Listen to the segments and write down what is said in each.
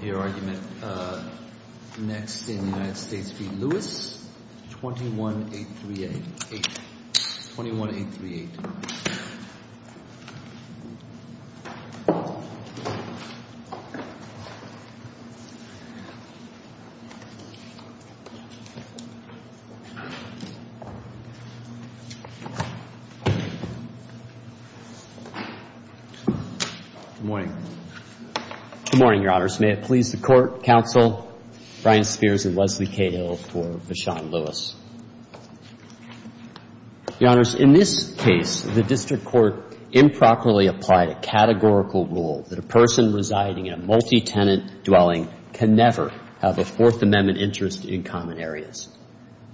21-838, 21-838. Good morning. May it please the Court, counsel, Brian Spears and Leslie Cahill for Vachon-Lewis. Your Honors, in this case, the district court improperly applied a categorical rule that a person residing in a multi-tenant dwelling can never have a Fourth Amendment interest in common areas.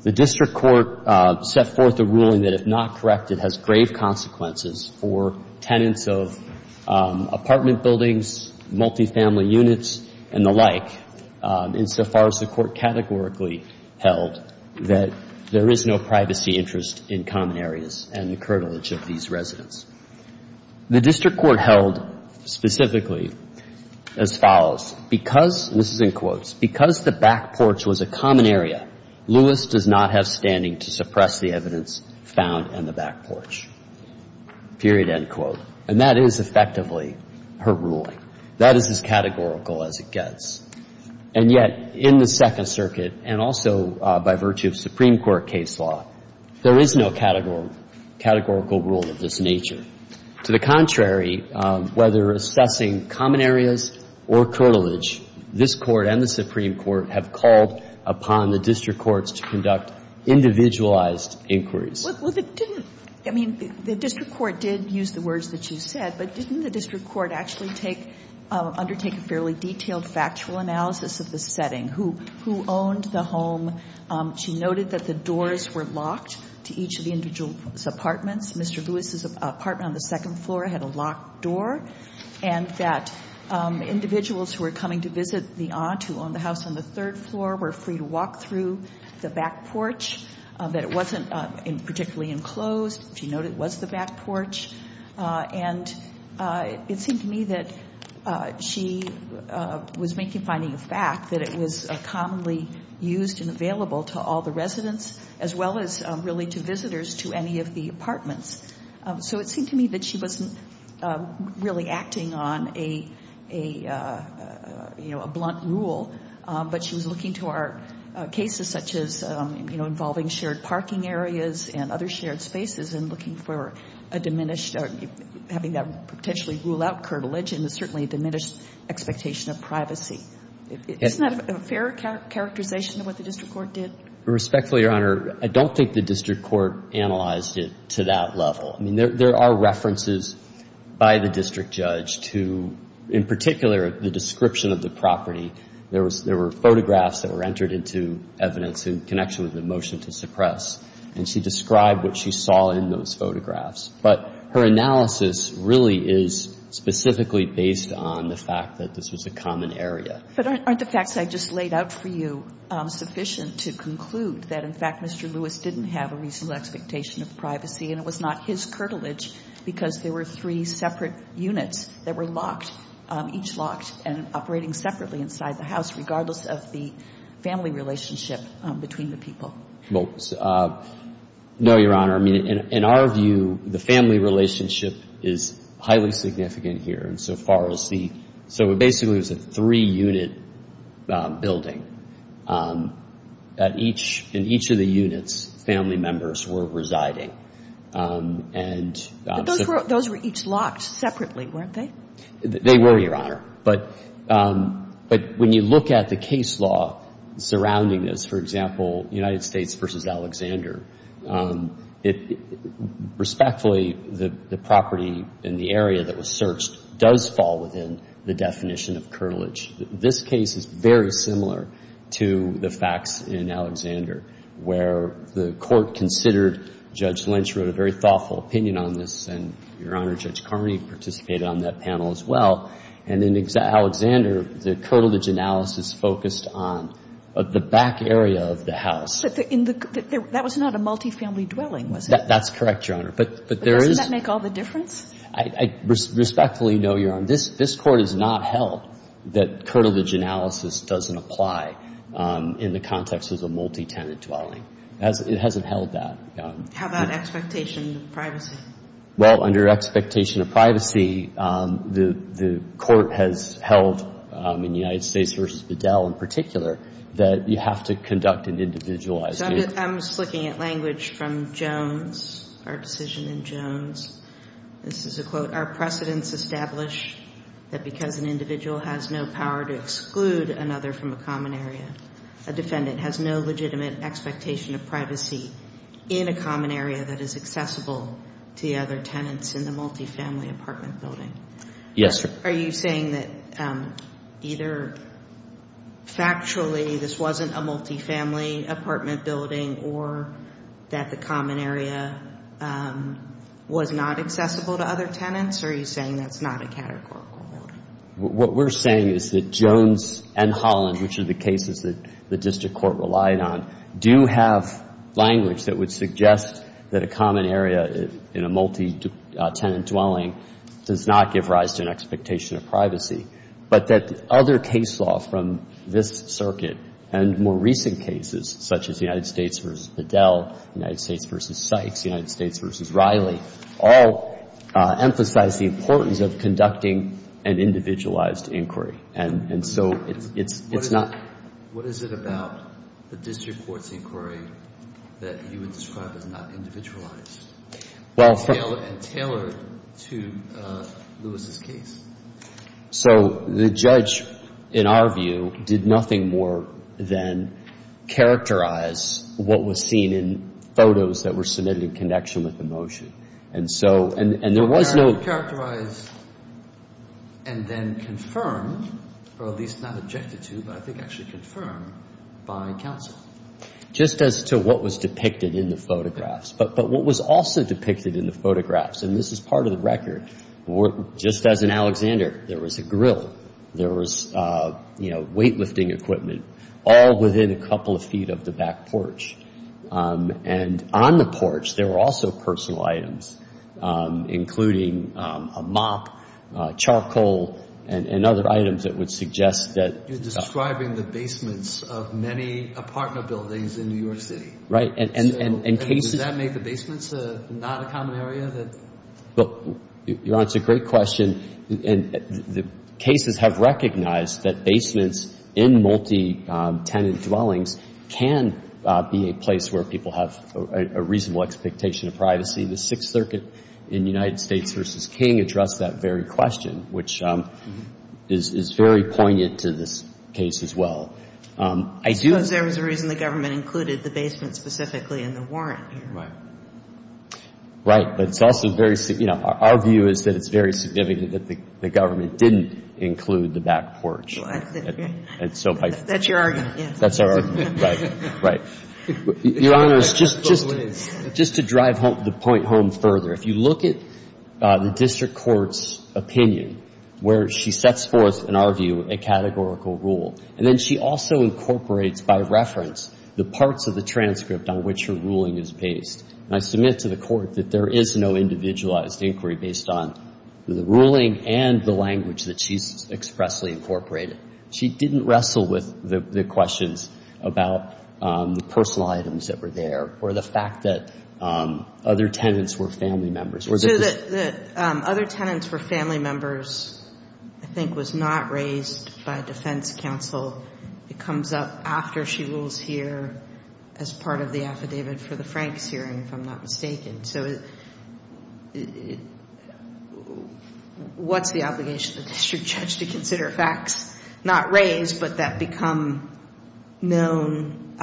The district court set forth a ruling that, if not corrected, has grave consequences for tenants of apartment buildings, multifamily units, and the like, insofar as the Court categorically held that there is no privacy interest in common areas and the curtilage of these residents. The district court held specifically as follows. Because, this is in quotes, because the back porch was a common area, Lewis does not have a privilege, period, end quote. And that is effectively her ruling. That is as categorical as it gets. And yet, in the Second Circuit, and also by virtue of Supreme Court case law, there is no categorical rule of this nature. To the contrary, whether assessing common areas or curtilage, this Court and the Supreme Court have called upon the district courts to conduct individualized inquiries. Well, they didn't. I mean, the district court did use the words that you said, but didn't the district court actually take, undertake a fairly detailed factual analysis of the setting? Who owned the home? She noted that the doors were locked to each of the individual's apartments. Mr. Lewis's apartment on the second floor had a locked door, and that individuals who were coming to visit the aunt who owned the house on the third floor were free to walk through the back porch, that it wasn't particularly enclosed. She noted it was the back porch. And it seemed to me that she was finding a fact that it was commonly used and available to all the residents, as well as really to visitors to any of the apartments. So it seemed to me that she wasn't really acting on a, you know, a blunt rule, but she was looking to our cases such as, you know, involving shared parking areas and other shared spaces and looking for a diminished, having that potentially rule out curtilage and certainly a diminished expectation of privacy. Isn't that a fair characterization of what the district court did? Respectfully, Your Honor, I don't think the district court analyzed it to that level. I mean, there are references by the district judge to, in particular, the description of the property. There were photographs that were entered into evidence in connection with the motion to suppress. And she described what she saw in those photographs. But her analysis really is specifically based on the fact that this was a common area. But aren't the facts I just laid out for you sufficient to conclude that, in fact, Mr. Lewis didn't have a reasonable expectation of privacy and it was not his curtilage because there were three separate units that were locked, each locked and operating separately inside the house, regardless of the family relationship between the people? Well, no, Your Honor. I mean, in our view, the family relationship is highly significant here. And so far as the — so it basically was a three-unit building. At each — in each of the units, family members were residing. And so — But those were each locked separately, weren't they? They were, Your Honor. But when you look at the case law surrounding this, for example, United States v. Alexander, it — respectfully, the property in the area that was searched does fall within the definition of curtilage. This case is very similar to the facts in Alexander, where the court considered — Judge Lynch wrote a very thoughtful opinion on this, and Your Honor, Judge Carney participated on that panel as well. And in Alexander, the curtilage analysis focused on the back area of the house. But in the — that was not a multifamily dwelling, was it? That's correct, Your Honor. But there is — But doesn't that make all the difference? I respectfully know, Your Honor, this Court has not held that curtilage analysis doesn't apply in the context of a multitenant dwelling. It hasn't held that. How about expectation of privacy? Well, under expectation of privacy, the Court has held, in United States v. Bedell in particular, that you have to conduct an individualized — I'm just looking at language from Jones, our decision in Jones. This is a quote. Our precedents establish that because an individual has no power to exclude another from a common area, a defendant has no legitimate expectation of privacy in a common area that is accessible to the other tenants in the multifamily apartment building. Yes, sir. Are you saying that either factually this wasn't a multifamily apartment building or that the common area was not accessible to other tenants, or are you saying that's not a categorical rule? What we're saying is that Jones and Holland, which are the cases that the district court relied on, do have language that would suggest that a common area in a multitenant dwelling does not give rise to an expectation of privacy, but that other case law from this circuit and more recent cases, such as United States v. Bedell, United States v. Sykes, United States v. Riley, all emphasize the importance of conducting an individualized inquiry. And so it's not — It's not the district court's inquiry that you would describe as not individualized and tailored to Lewis's case. So the judge, in our view, did nothing more than characterize what was seen in photos that were submitted in connection with the motion. And so — It was characterized and then confirmed, or at least not objected to, but I think actually confirmed by counsel. Just as to what was depicted in the photographs. But what was also depicted in the photographs, and this is part of the record, just as in Alexander, there was a grill, there was weightlifting equipment, all within a couple of feet of the back porch. And on the porch, there were also personal items, including a mop, charcoal, and other items that would suggest that — You're describing the basements of many apartment buildings in New York City. Right. And cases — So does that make the basements not a common area that — Well, your Honor, it's a great question. And the cases have recognized that basements in multi-tenant dwellings can be a place where people have a reasonable expectation of privacy. The Sixth Circuit in United States v. King addressed that very question, which is very poignant to this case as well. I do — I suppose there was a reason the government included the basement specifically in the warrant. Right. Right. But it's also very — you know, our view is that it's very significant that the government didn't include the back porch. Right. And so if I — That's your argument, yes. That's our argument. Right. Right. Your Honor, it's just — That's what it is. Just to drive the point home further, if you look at the district court's opinion, where she sets forth, in our view, a categorical rule, and then she also incorporates by reference the parts of the transcript on which her ruling is based, and I submit to the Court that there is no individualized inquiry based on the ruling and the language that she's expressly incorporated. She didn't wrestle with the questions about the personal items that were there or the fact that other tenants were family members. So that other tenants were family members, I think, was not raised by defense counsel. It comes up after she rules here as part of the affidavit for the Franks hearing, if I'm not mistaken. So what's the obligation of the district judge to consider facts not raised but that become known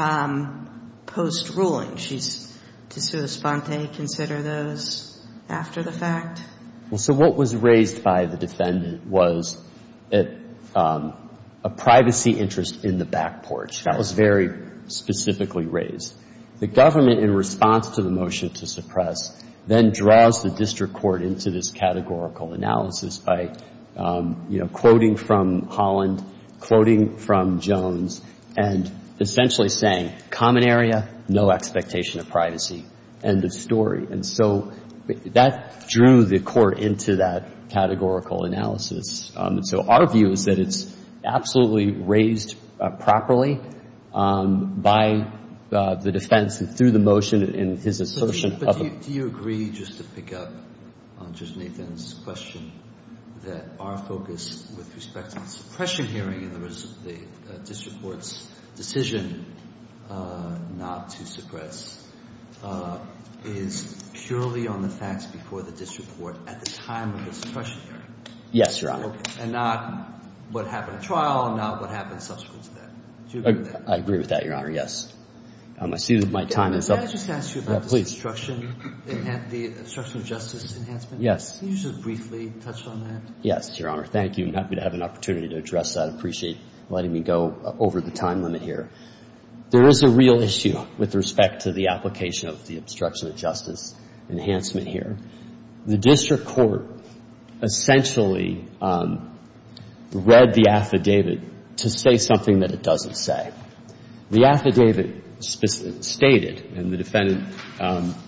post-ruling? She's to sui sponte, consider those after the fact? Well, so what was raised by the defendant was a privacy interest in the back porch. That was very specifically raised. The government, in response to the motion to suppress, then draws the district court into this categorical analysis by, you know, quoting from Holland, quoting from Jones, and essentially saying, common area, no expectation of privacy, end of story. And so that drew the court into that categorical analysis. And so our view is that it's absolutely raised properly by the defense and through the motion and his assertion of it. But do you agree, just to pick up on Judge Nathan's question, that our focus with respect to the suppression hearing in the district court's decision not to suppress is purely on the facts before the district court at the time of the suppression hearing? Yes, Your Honor. And not what happened at trial and not what happened subsequent to that? I agree with that, Your Honor, yes. I see that my time is up. May I just ask you about the obstruction of justice enhancement? Yes. Can you just briefly touch on that? Yes, Your Honor. Thank you. I'm happy to have an opportunity to address that. I appreciate letting me go over the time limit here. There is a real issue with respect to the application of the obstruction of justice enhancement here. The district court essentially read the affidavit to say something that it doesn't say. The affidavit stated, and the defendant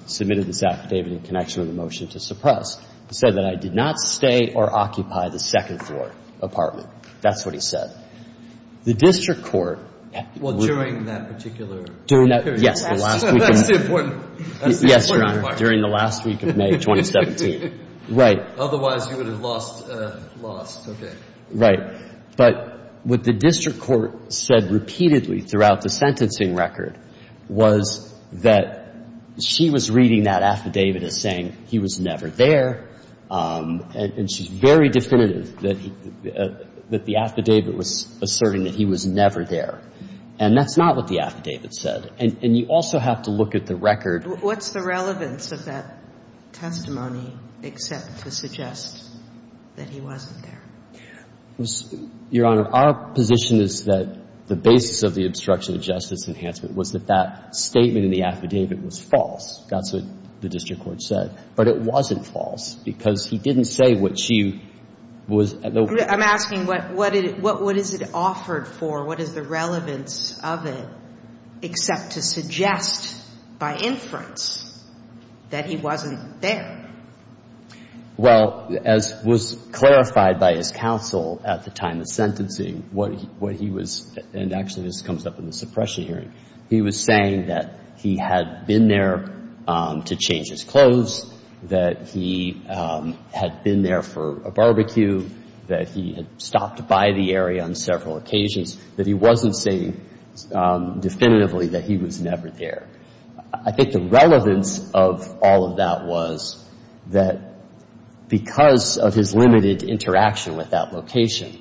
submitted this affidavit in connection with the motion to suppress, it said that I did not stay or occupy the second-floor apartment. That's what he said. The district court at the time. Well, during that particular period. Yes, the last week of May. That's the important part. Yes, Your Honor, during the last week of May of 2017. Right. Otherwise, you would have lost, lost. Okay. Right. But what the district court said repeatedly throughout the sentencing record was that she was reading that affidavit as saying he was never there, and she's very definitive that the affidavit was asserting that he was never there. And that's not what the affidavit said. And you also have to look at the record. What's the relevance of that testimony except to suggest that he wasn't there? Your Honor, our position is that the basis of the obstruction of justice enhancement was that that statement in the affidavit was false. That's what the district court said. But it wasn't false because he didn't say what she was. I'm asking what is it offered for? What is the relevance of it except to suggest by inference that he wasn't there? Well, as was clarified by his counsel at the time of sentencing, what he was, and actually this comes up in the suppression hearing, he was saying that he had been there to change his clothes, that he had been there for a barbecue, that he had stopped by the area on several occasions, that he wasn't saying definitively that he was never there. I think the relevance of all of that was that because of his limited interaction with that location,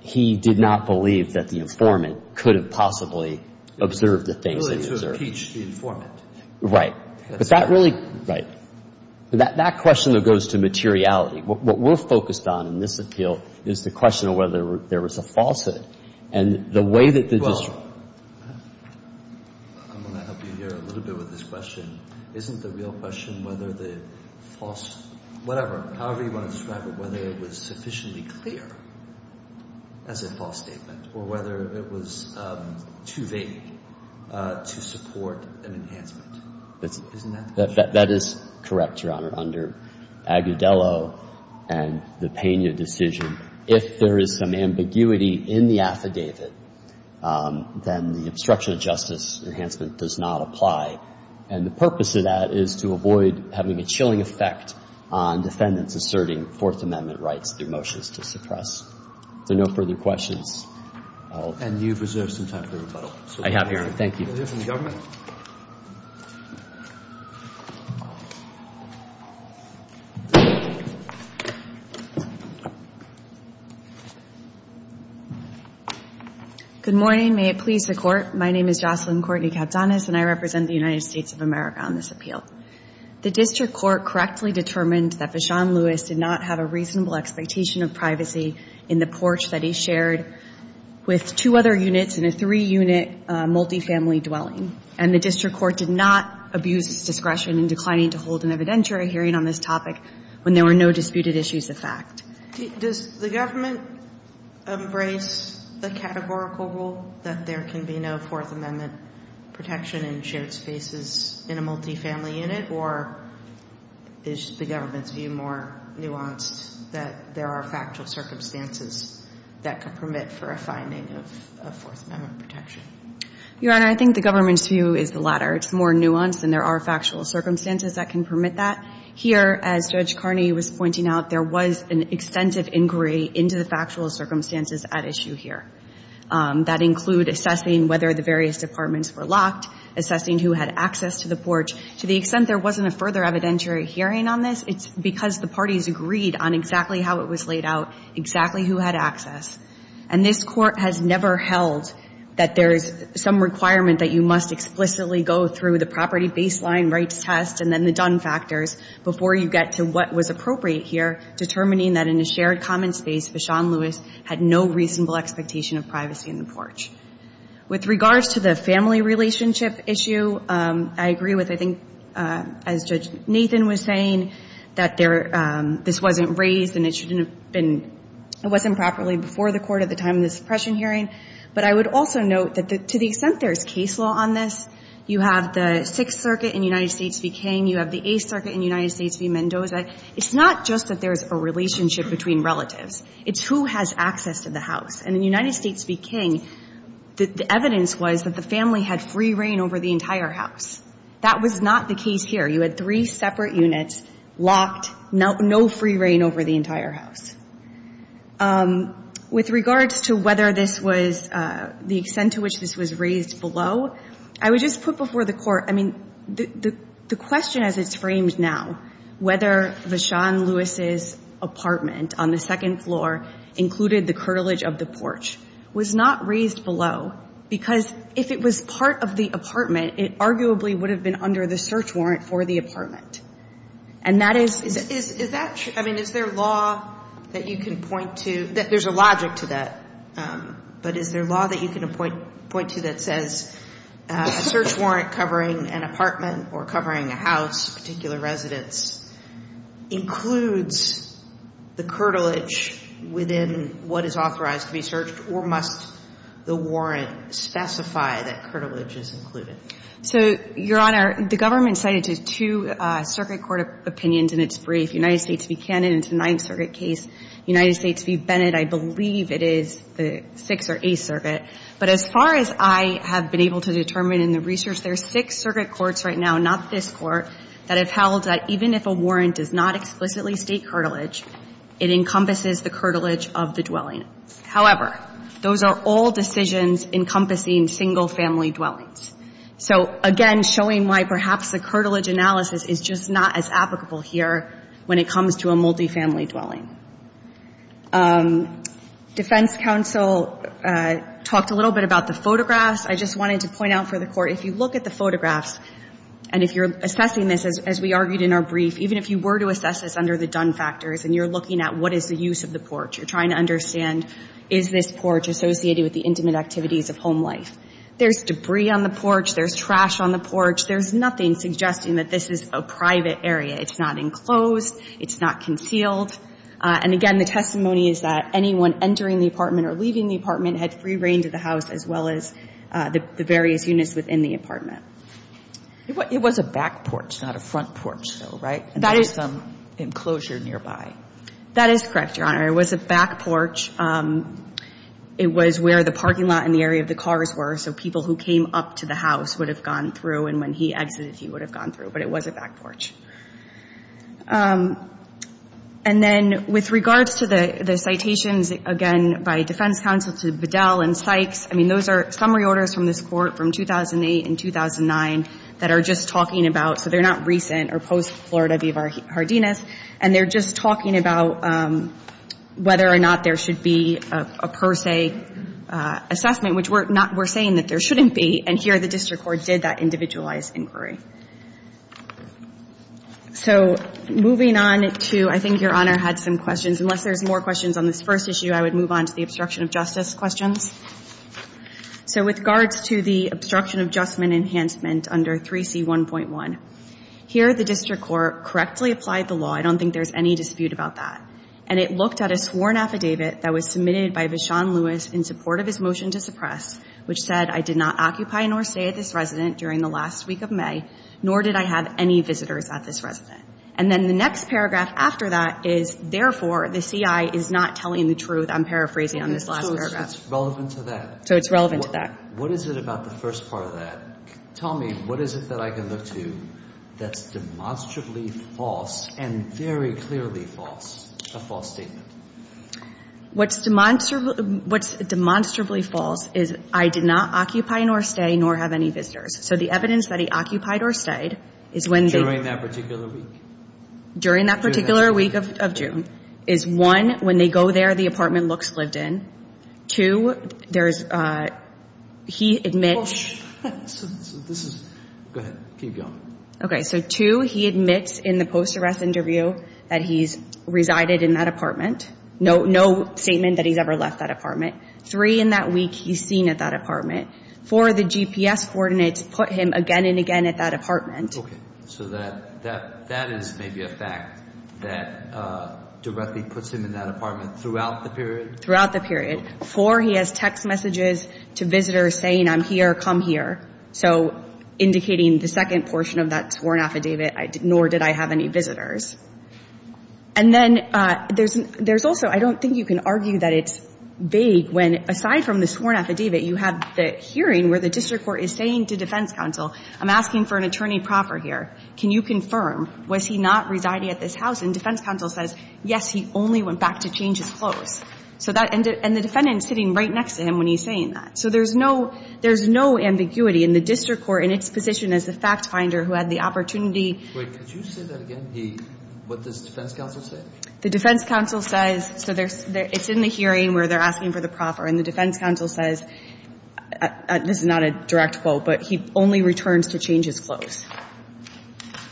he did not believe that the informant could have possibly observed the things that he observed. Really to impeach the informant. Right. But that really, right, that question that goes to materiality. What we're focused on in this appeal is the question of whether there was a falsehood. And the way that the district court. Well, I'm going to help you here a little bit with this question. Isn't the real question whether the false, whatever, however you want to describe it, whether it was sufficiently clear as a false statement or whether it was too vague to support an enhancement. Isn't that the question? That is correct, Your Honor, under Agudelo and the Pena decision. If there is some ambiguity in the affidavit, then the obstruction of justice enhancement does not apply. And the purpose of that is to avoid having a chilling effect on defendants asserting Fourth Amendment rights through motions to suppress. If there are no further questions, I'll. And you've reserved some time for rebuttal. I have, Your Honor. Thank you. The government. Good morning. May it please the Court. My name is Jocelyn Courtney Katsanas, and I represent the United States of America on this appeal. The district court correctly determined that Vachon-Lewis did not have a reasonable expectation of privacy in the porch that he shared with two other units in a three-unit multifamily dwelling. And the district court did not abuse its discretion in declining to hold an evidentiary hearing on this topic when there were no disputed issues of fact. Does the government embrace the categorical rule that there can be no Fourth Amendment protection in shared spaces in a multifamily unit? Or is the government's view more nuanced that there are factual circumstances that could permit for a finding of Fourth Amendment protection? Your Honor, I think the government's view is the latter. It's more nuanced, and there are factual circumstances that can permit that. Here, as Judge Carney was pointing out, there was an extensive inquiry into the factual circumstances at issue here. That includes assessing whether the various departments were locked, assessing who had access to the porch. To the extent there wasn't a further evidentiary hearing on this, it's because the parties agreed on exactly how it was laid out, exactly who had access. And this Court has never held that there is some requirement that you must explicitly go through the property baseline rights test and then the done factors before you get to what was appropriate here, determining that in a shared common space, Vachon-Lewis had no reasonable expectation of privacy in the porch. With regards to the family relationship issue, I agree with, I think, as Judge Nathan was saying, that this wasn't raised, and it wasn't properly before the Court at the time of the suppression hearing. But I would also note that to the extent there is case law on this, you have the Sixth Circuit in United States v. King. You have the Eighth Circuit in United States v. Mendoza. It's not just that there is a relationship between relatives. It's who has access to the house. And in United States v. King, the evidence was that the family had free reign over the entire house. That was not the case here. You had three separate units locked, no free reign over the entire house. With regards to whether this was the extent to which this was raised below, I would just put before the Court, I mean, the question as it's framed now, whether Vachon-Lewis's apartment on the second floor included the curtilage of the porch was not raised below because if it was part of the apartment, it arguably would have been under the search warrant for the apartment. And that is – Is that – I mean, is there law that you can point to – there's a logic to that. But is there law that you can point to that says a search warrant covering an apartment or covering a house, particular residence, includes the curtilage within what is authorized to be searched, or must the warrant specify that curtilage is included? So, Your Honor, the government cited two circuit court opinions in its brief, United States v. Cannon in its Ninth Circuit case, United States v. Bennett, I believe it is the Sixth or Eighth Circuit. But as far as I have been able to determine in the research, there are six circuit courts right now, not this Court, that have held that even if a warrant does not explicitly state curtilage, it encompasses the curtilage of the dwelling. However, those are all decisions encompassing single-family dwellings. So, again, showing why perhaps the curtilage analysis is just not as applicable here when it comes to a multifamily dwelling. Defense counsel talked a little bit about the photographs. I just wanted to point out for the Court, if you look at the photographs and if you're assessing this, as we argued in our brief, even if you were to assess this under the Dunn factors and you're looking at what is the use of the porch, you're trying to understand is this porch associated with the intimate activities of home life. There's debris on the porch. There's trash on the porch. There's nothing suggesting that this is a private area. It's not enclosed. It's not concealed. And, again, the testimony is that anyone entering the apartment or leaving the apartment had free reign to the house as well as the various units within the apartment. It was a back porch, not a front porch, though, right? That is some enclosure nearby. That is correct, Your Honor. It was a back porch. It was where the parking lot and the area of the cars were, so people who came up to the house would have gone through, and when he exited, he would have gone through, but it was a back porch. And then with regards to the citations, again, by defense counsel to Bedell and Sykes, I mean, those are summary orders from this Court from 2008 and 2009 that are just talking about, so they're not recent or post-Florida v. V. Hardinas, and they're just talking about whether or not there should be a per se assessment, which we're saying that there shouldn't be, and here the district court did that individualized inquiry. So moving on to, I think Your Honor had some questions. Unless there's more questions on this first issue, I would move on to the obstruction of justice questions. So with regards to the obstruction of justice enhancement under 3C1.1, here the district court correctly applied the law. I don't think there's any dispute about that, and it looked at a sworn affidavit that was submitted by Vishon Lewis in support of his motion to suppress, which said, I did not occupy nor stay at this resident during the last week of May, nor did I have any visitors at this resident. And then the next paragraph after that is, therefore, the CI is not telling the truth. I'm paraphrasing on this last paragraph. So it's relevant to that. So it's relevant to that. What is it about the first part of that? Tell me, what is it that I can look to that's demonstrably false and very clearly false, a false statement? What's demonstrably false is I did not occupy nor stay, nor have any visitors. So the evidence that he occupied or stayed is when the – During that particular week? During that particular week of June is, one, when they go there, the apartment looks lived in. Two, there's – he admits – This is – go ahead. Keep going. Okay. So, two, he admits in the post-arrest interview that he's resided in that apartment. No statement that he's ever left that apartment. Three, in that week, he's seen at that apartment. Four, the GPS coordinates put him again and again at that apartment. Okay. So that is maybe a fact that directly puts him in that apartment throughout the period? Throughout the period. Four, he has text messages to visitors saying, I'm here, come here. So indicating the second portion of that sworn affidavit, nor did I have any visitors. And then there's also – I don't think you can argue that it's vague when, aside from the sworn affidavit, you have the hearing where the district court is saying to defense counsel, I'm asking for an attorney proper here. Can you confirm, was he not residing at this house? And defense counsel says, yes, he only went back to change his clothes. So that – and the defendant is sitting right next to him when he's saying that. So there's no ambiguity. And the district court, in its position as the fact finder who had the opportunity Wait. Could you say that again? What does defense counsel say? The defense counsel says – so it's in the hearing where they're asking for the proper. And the defense counsel says – this is not a direct quote, but he only returns to change his clothes.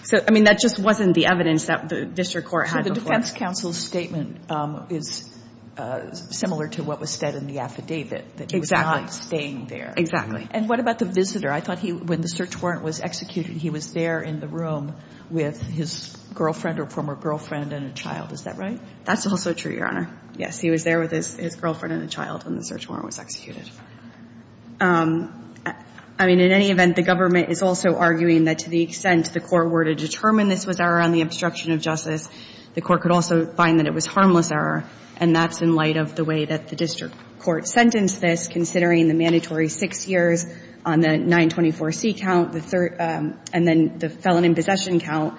So, I mean, that just wasn't the evidence that the district court had before. The defense counsel's statement is similar to what was said in the affidavit. Exactly. That he was not staying there. Exactly. And what about the visitor? I thought he – when the search warrant was executed, he was there in the room with his girlfriend or former girlfriend and a child. Is that right? That's also true, Your Honor. Yes, he was there with his girlfriend and a child when the search warrant was executed. I mean, in any event, the government is also arguing that to the extent the court was error on the obstruction of justice, the court could also find that it was harmless error. And that's in light of the way that the district court sentenced this, considering the mandatory six years on the 924C count, the third – and then the felon in possession count.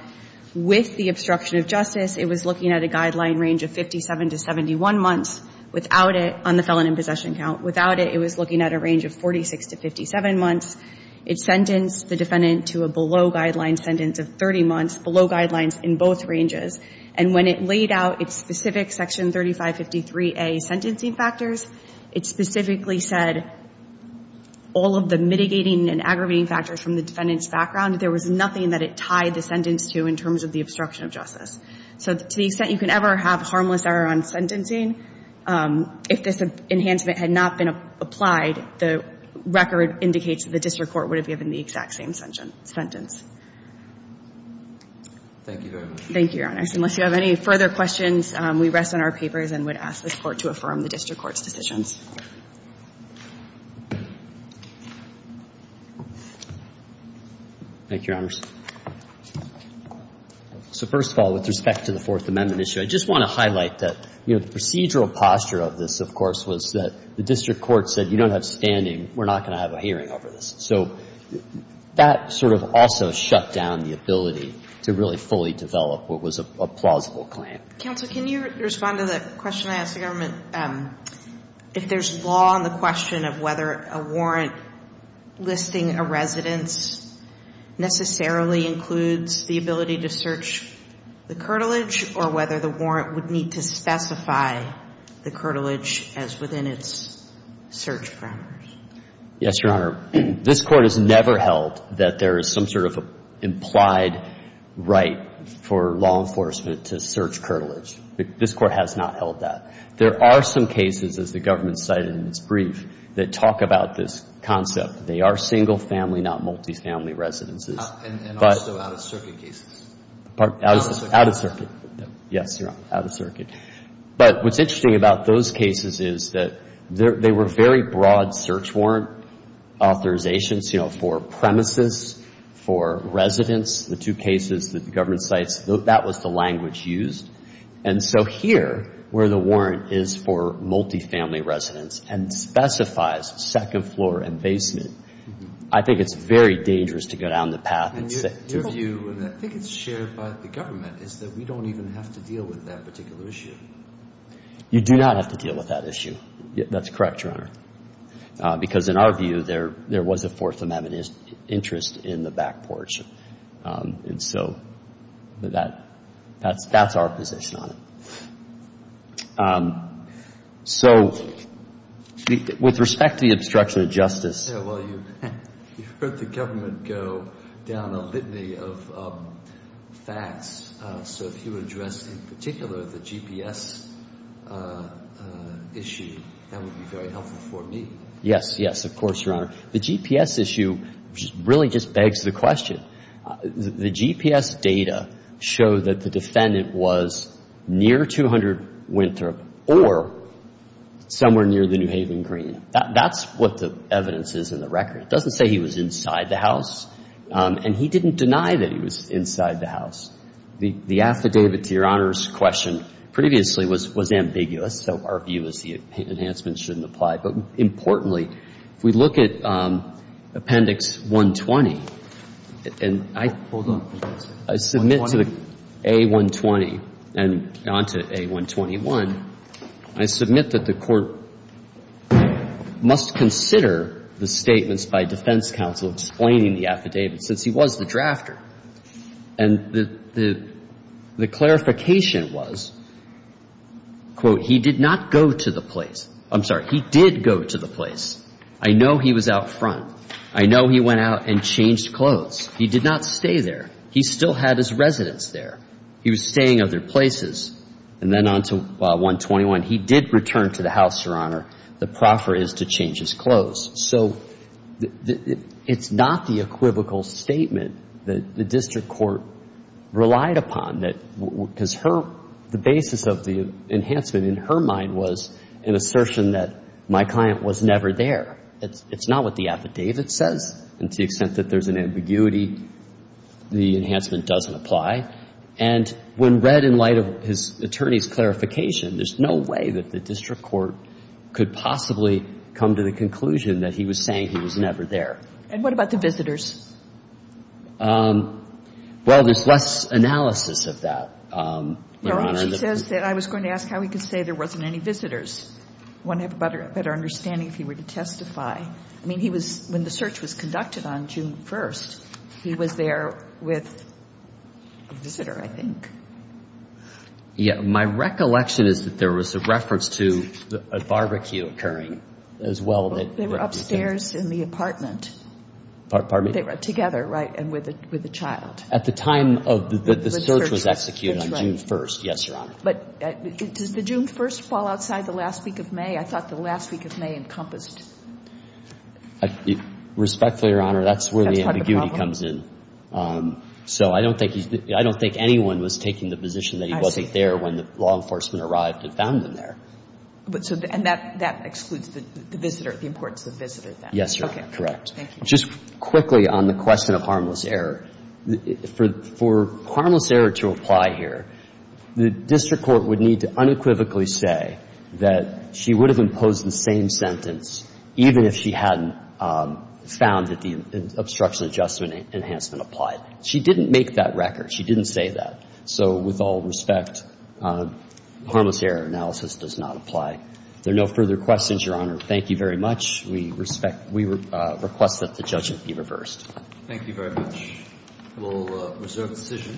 With the obstruction of justice, it was looking at a guideline range of 57 to 71 months. Without it – on the felon in possession count. Without it, it was looking at a range of 46 to 57 months. It sentenced the defendant to a below-guideline sentence of 30 months, below guidelines in both ranges. And when it laid out its specific Section 3553A sentencing factors, it specifically said all of the mitigating and aggravating factors from the defendant's background, there was nothing that it tied the sentence to in terms of the obstruction of justice. So to the extent you can ever have harmless error on sentencing, if this enhancement had not been applied, the record indicates that the district court would have given the exact same sentence. Thank you very much. Thank you, Your Honors. Unless you have any further questions, we rest on our papers and would ask this Court to affirm the district court's decisions. Thank you, Your Honors. So first of all, with respect to the Fourth Amendment issue, I just want to highlight that, you know, the procedural posture of this, of course, was that the district court said, you don't have standing, we're not going to have a hearing over this. So that sort of also shut down the ability to really fully develop what was a plausible claim. Counsel, can you respond to the question I asked the government? If there's law on the question of whether a warrant listing a residence necessarily includes the ability to search the curtilage or whether the warrant would need to specify the curtilage as within its search parameters? Yes, Your Honor. This Court has never held that there is some sort of implied right for law enforcement to search curtilage. This Court has not held that. There are some cases, as the government cited in its brief, that talk about this concept. They are single-family, not multi-family residences. And also out-of-circuit cases. Out-of-circuit. Yes, Your Honor. Out-of-circuit. But what's interesting about those cases is that they were very broad search warrant authorizations, you know, for premises, for residence, the two cases that the government cites, that was the language used. And so here, where the warrant is for multi-family residence and specifies second floor and basement, I think it's very dangerous to go down the path and say... Your view, and I think it's shared by the government, is that we don't even have to deal with that particular issue. You do not have to deal with that issue. That's correct, Your Honor. Because in our view, there was a Fourth Amendment interest in the back porch. And so that's our position on it. So with respect to the obstruction of justice... Well, you heard the government go down a litany of facts. So if you address in particular the GPS issue, that would be very helpful for me. Yes, yes, of course, Your Honor. The GPS issue really just begs the question. The GPS data show that the defendant was near 200 Winthrop or somewhere near the New Haven Green. That's what the evidence is in the record. It doesn't say he was inside the house. And he didn't deny that he was inside the house. The affidavit to Your Honor's question previously was ambiguous, so our view is the enhancement shouldn't apply. But importantly, if we look at Appendix 120, and I submit to the A120 and on to A121, I submit that the Court must consider the statements by defense counsel explaining the affidavit since he was the drafter. And the clarification was, quote, he did not go to the place. I'm sorry. He did go to the place. I know he was out front. I know he went out and changed clothes. He did not stay there. He still had his residence there. He was staying at other places. And then on to A121, he did return to the house, Your Honor. The proffer is to change his clothes. So it's not the equivocal statement that the District Court relied upon. The basis of the enhancement in her mind was an assertion that my client was never there. It's not what the affidavit says. And to the extent that there's an ambiguity, the enhancement doesn't apply. And when read in light of his attorney's clarification, there's no way that the District Court could possibly come to the conclusion that he was saying he was never there. And what about the visitors? Well, there's less analysis of that, Your Honor. No. She says that I was going to ask how he could say there wasn't any visitors. I want to have a better understanding if he were to testify. I mean, he was, when the search was conducted on June 1st, he was there with a visitor, I think. Yeah. My recollection is that there was a reference to a barbecue occurring as well. They were upstairs in the apartment. Pardon me? They were together, right, and with a child. At the time of the search was executed on June 1st. That's right. Yes, Your Honor. But does the June 1st fall outside the last week of May? I thought the last week of May encompassed. Respectfully, Your Honor, that's where the ambiguity comes in. So I don't think anyone was taking the position that he wasn't there when the law enforcement arrived and found him there. And that excludes the visitor, the importance of the visitor then? Yes, Your Honor. Correct. Thank you. Just quickly on the question of harmless error. For harmless error to apply here, the district court would need to unequivocally say that she would have imposed the same sentence even if she hadn't found that the obstruction adjustment enhancement applied. She didn't make that record. She didn't say that. So with all respect, harmless error analysis does not apply. If there are no further questions, Your Honor, thank you very much. We request that the judgment be reversed. Thank you very much. We will reserve the decision.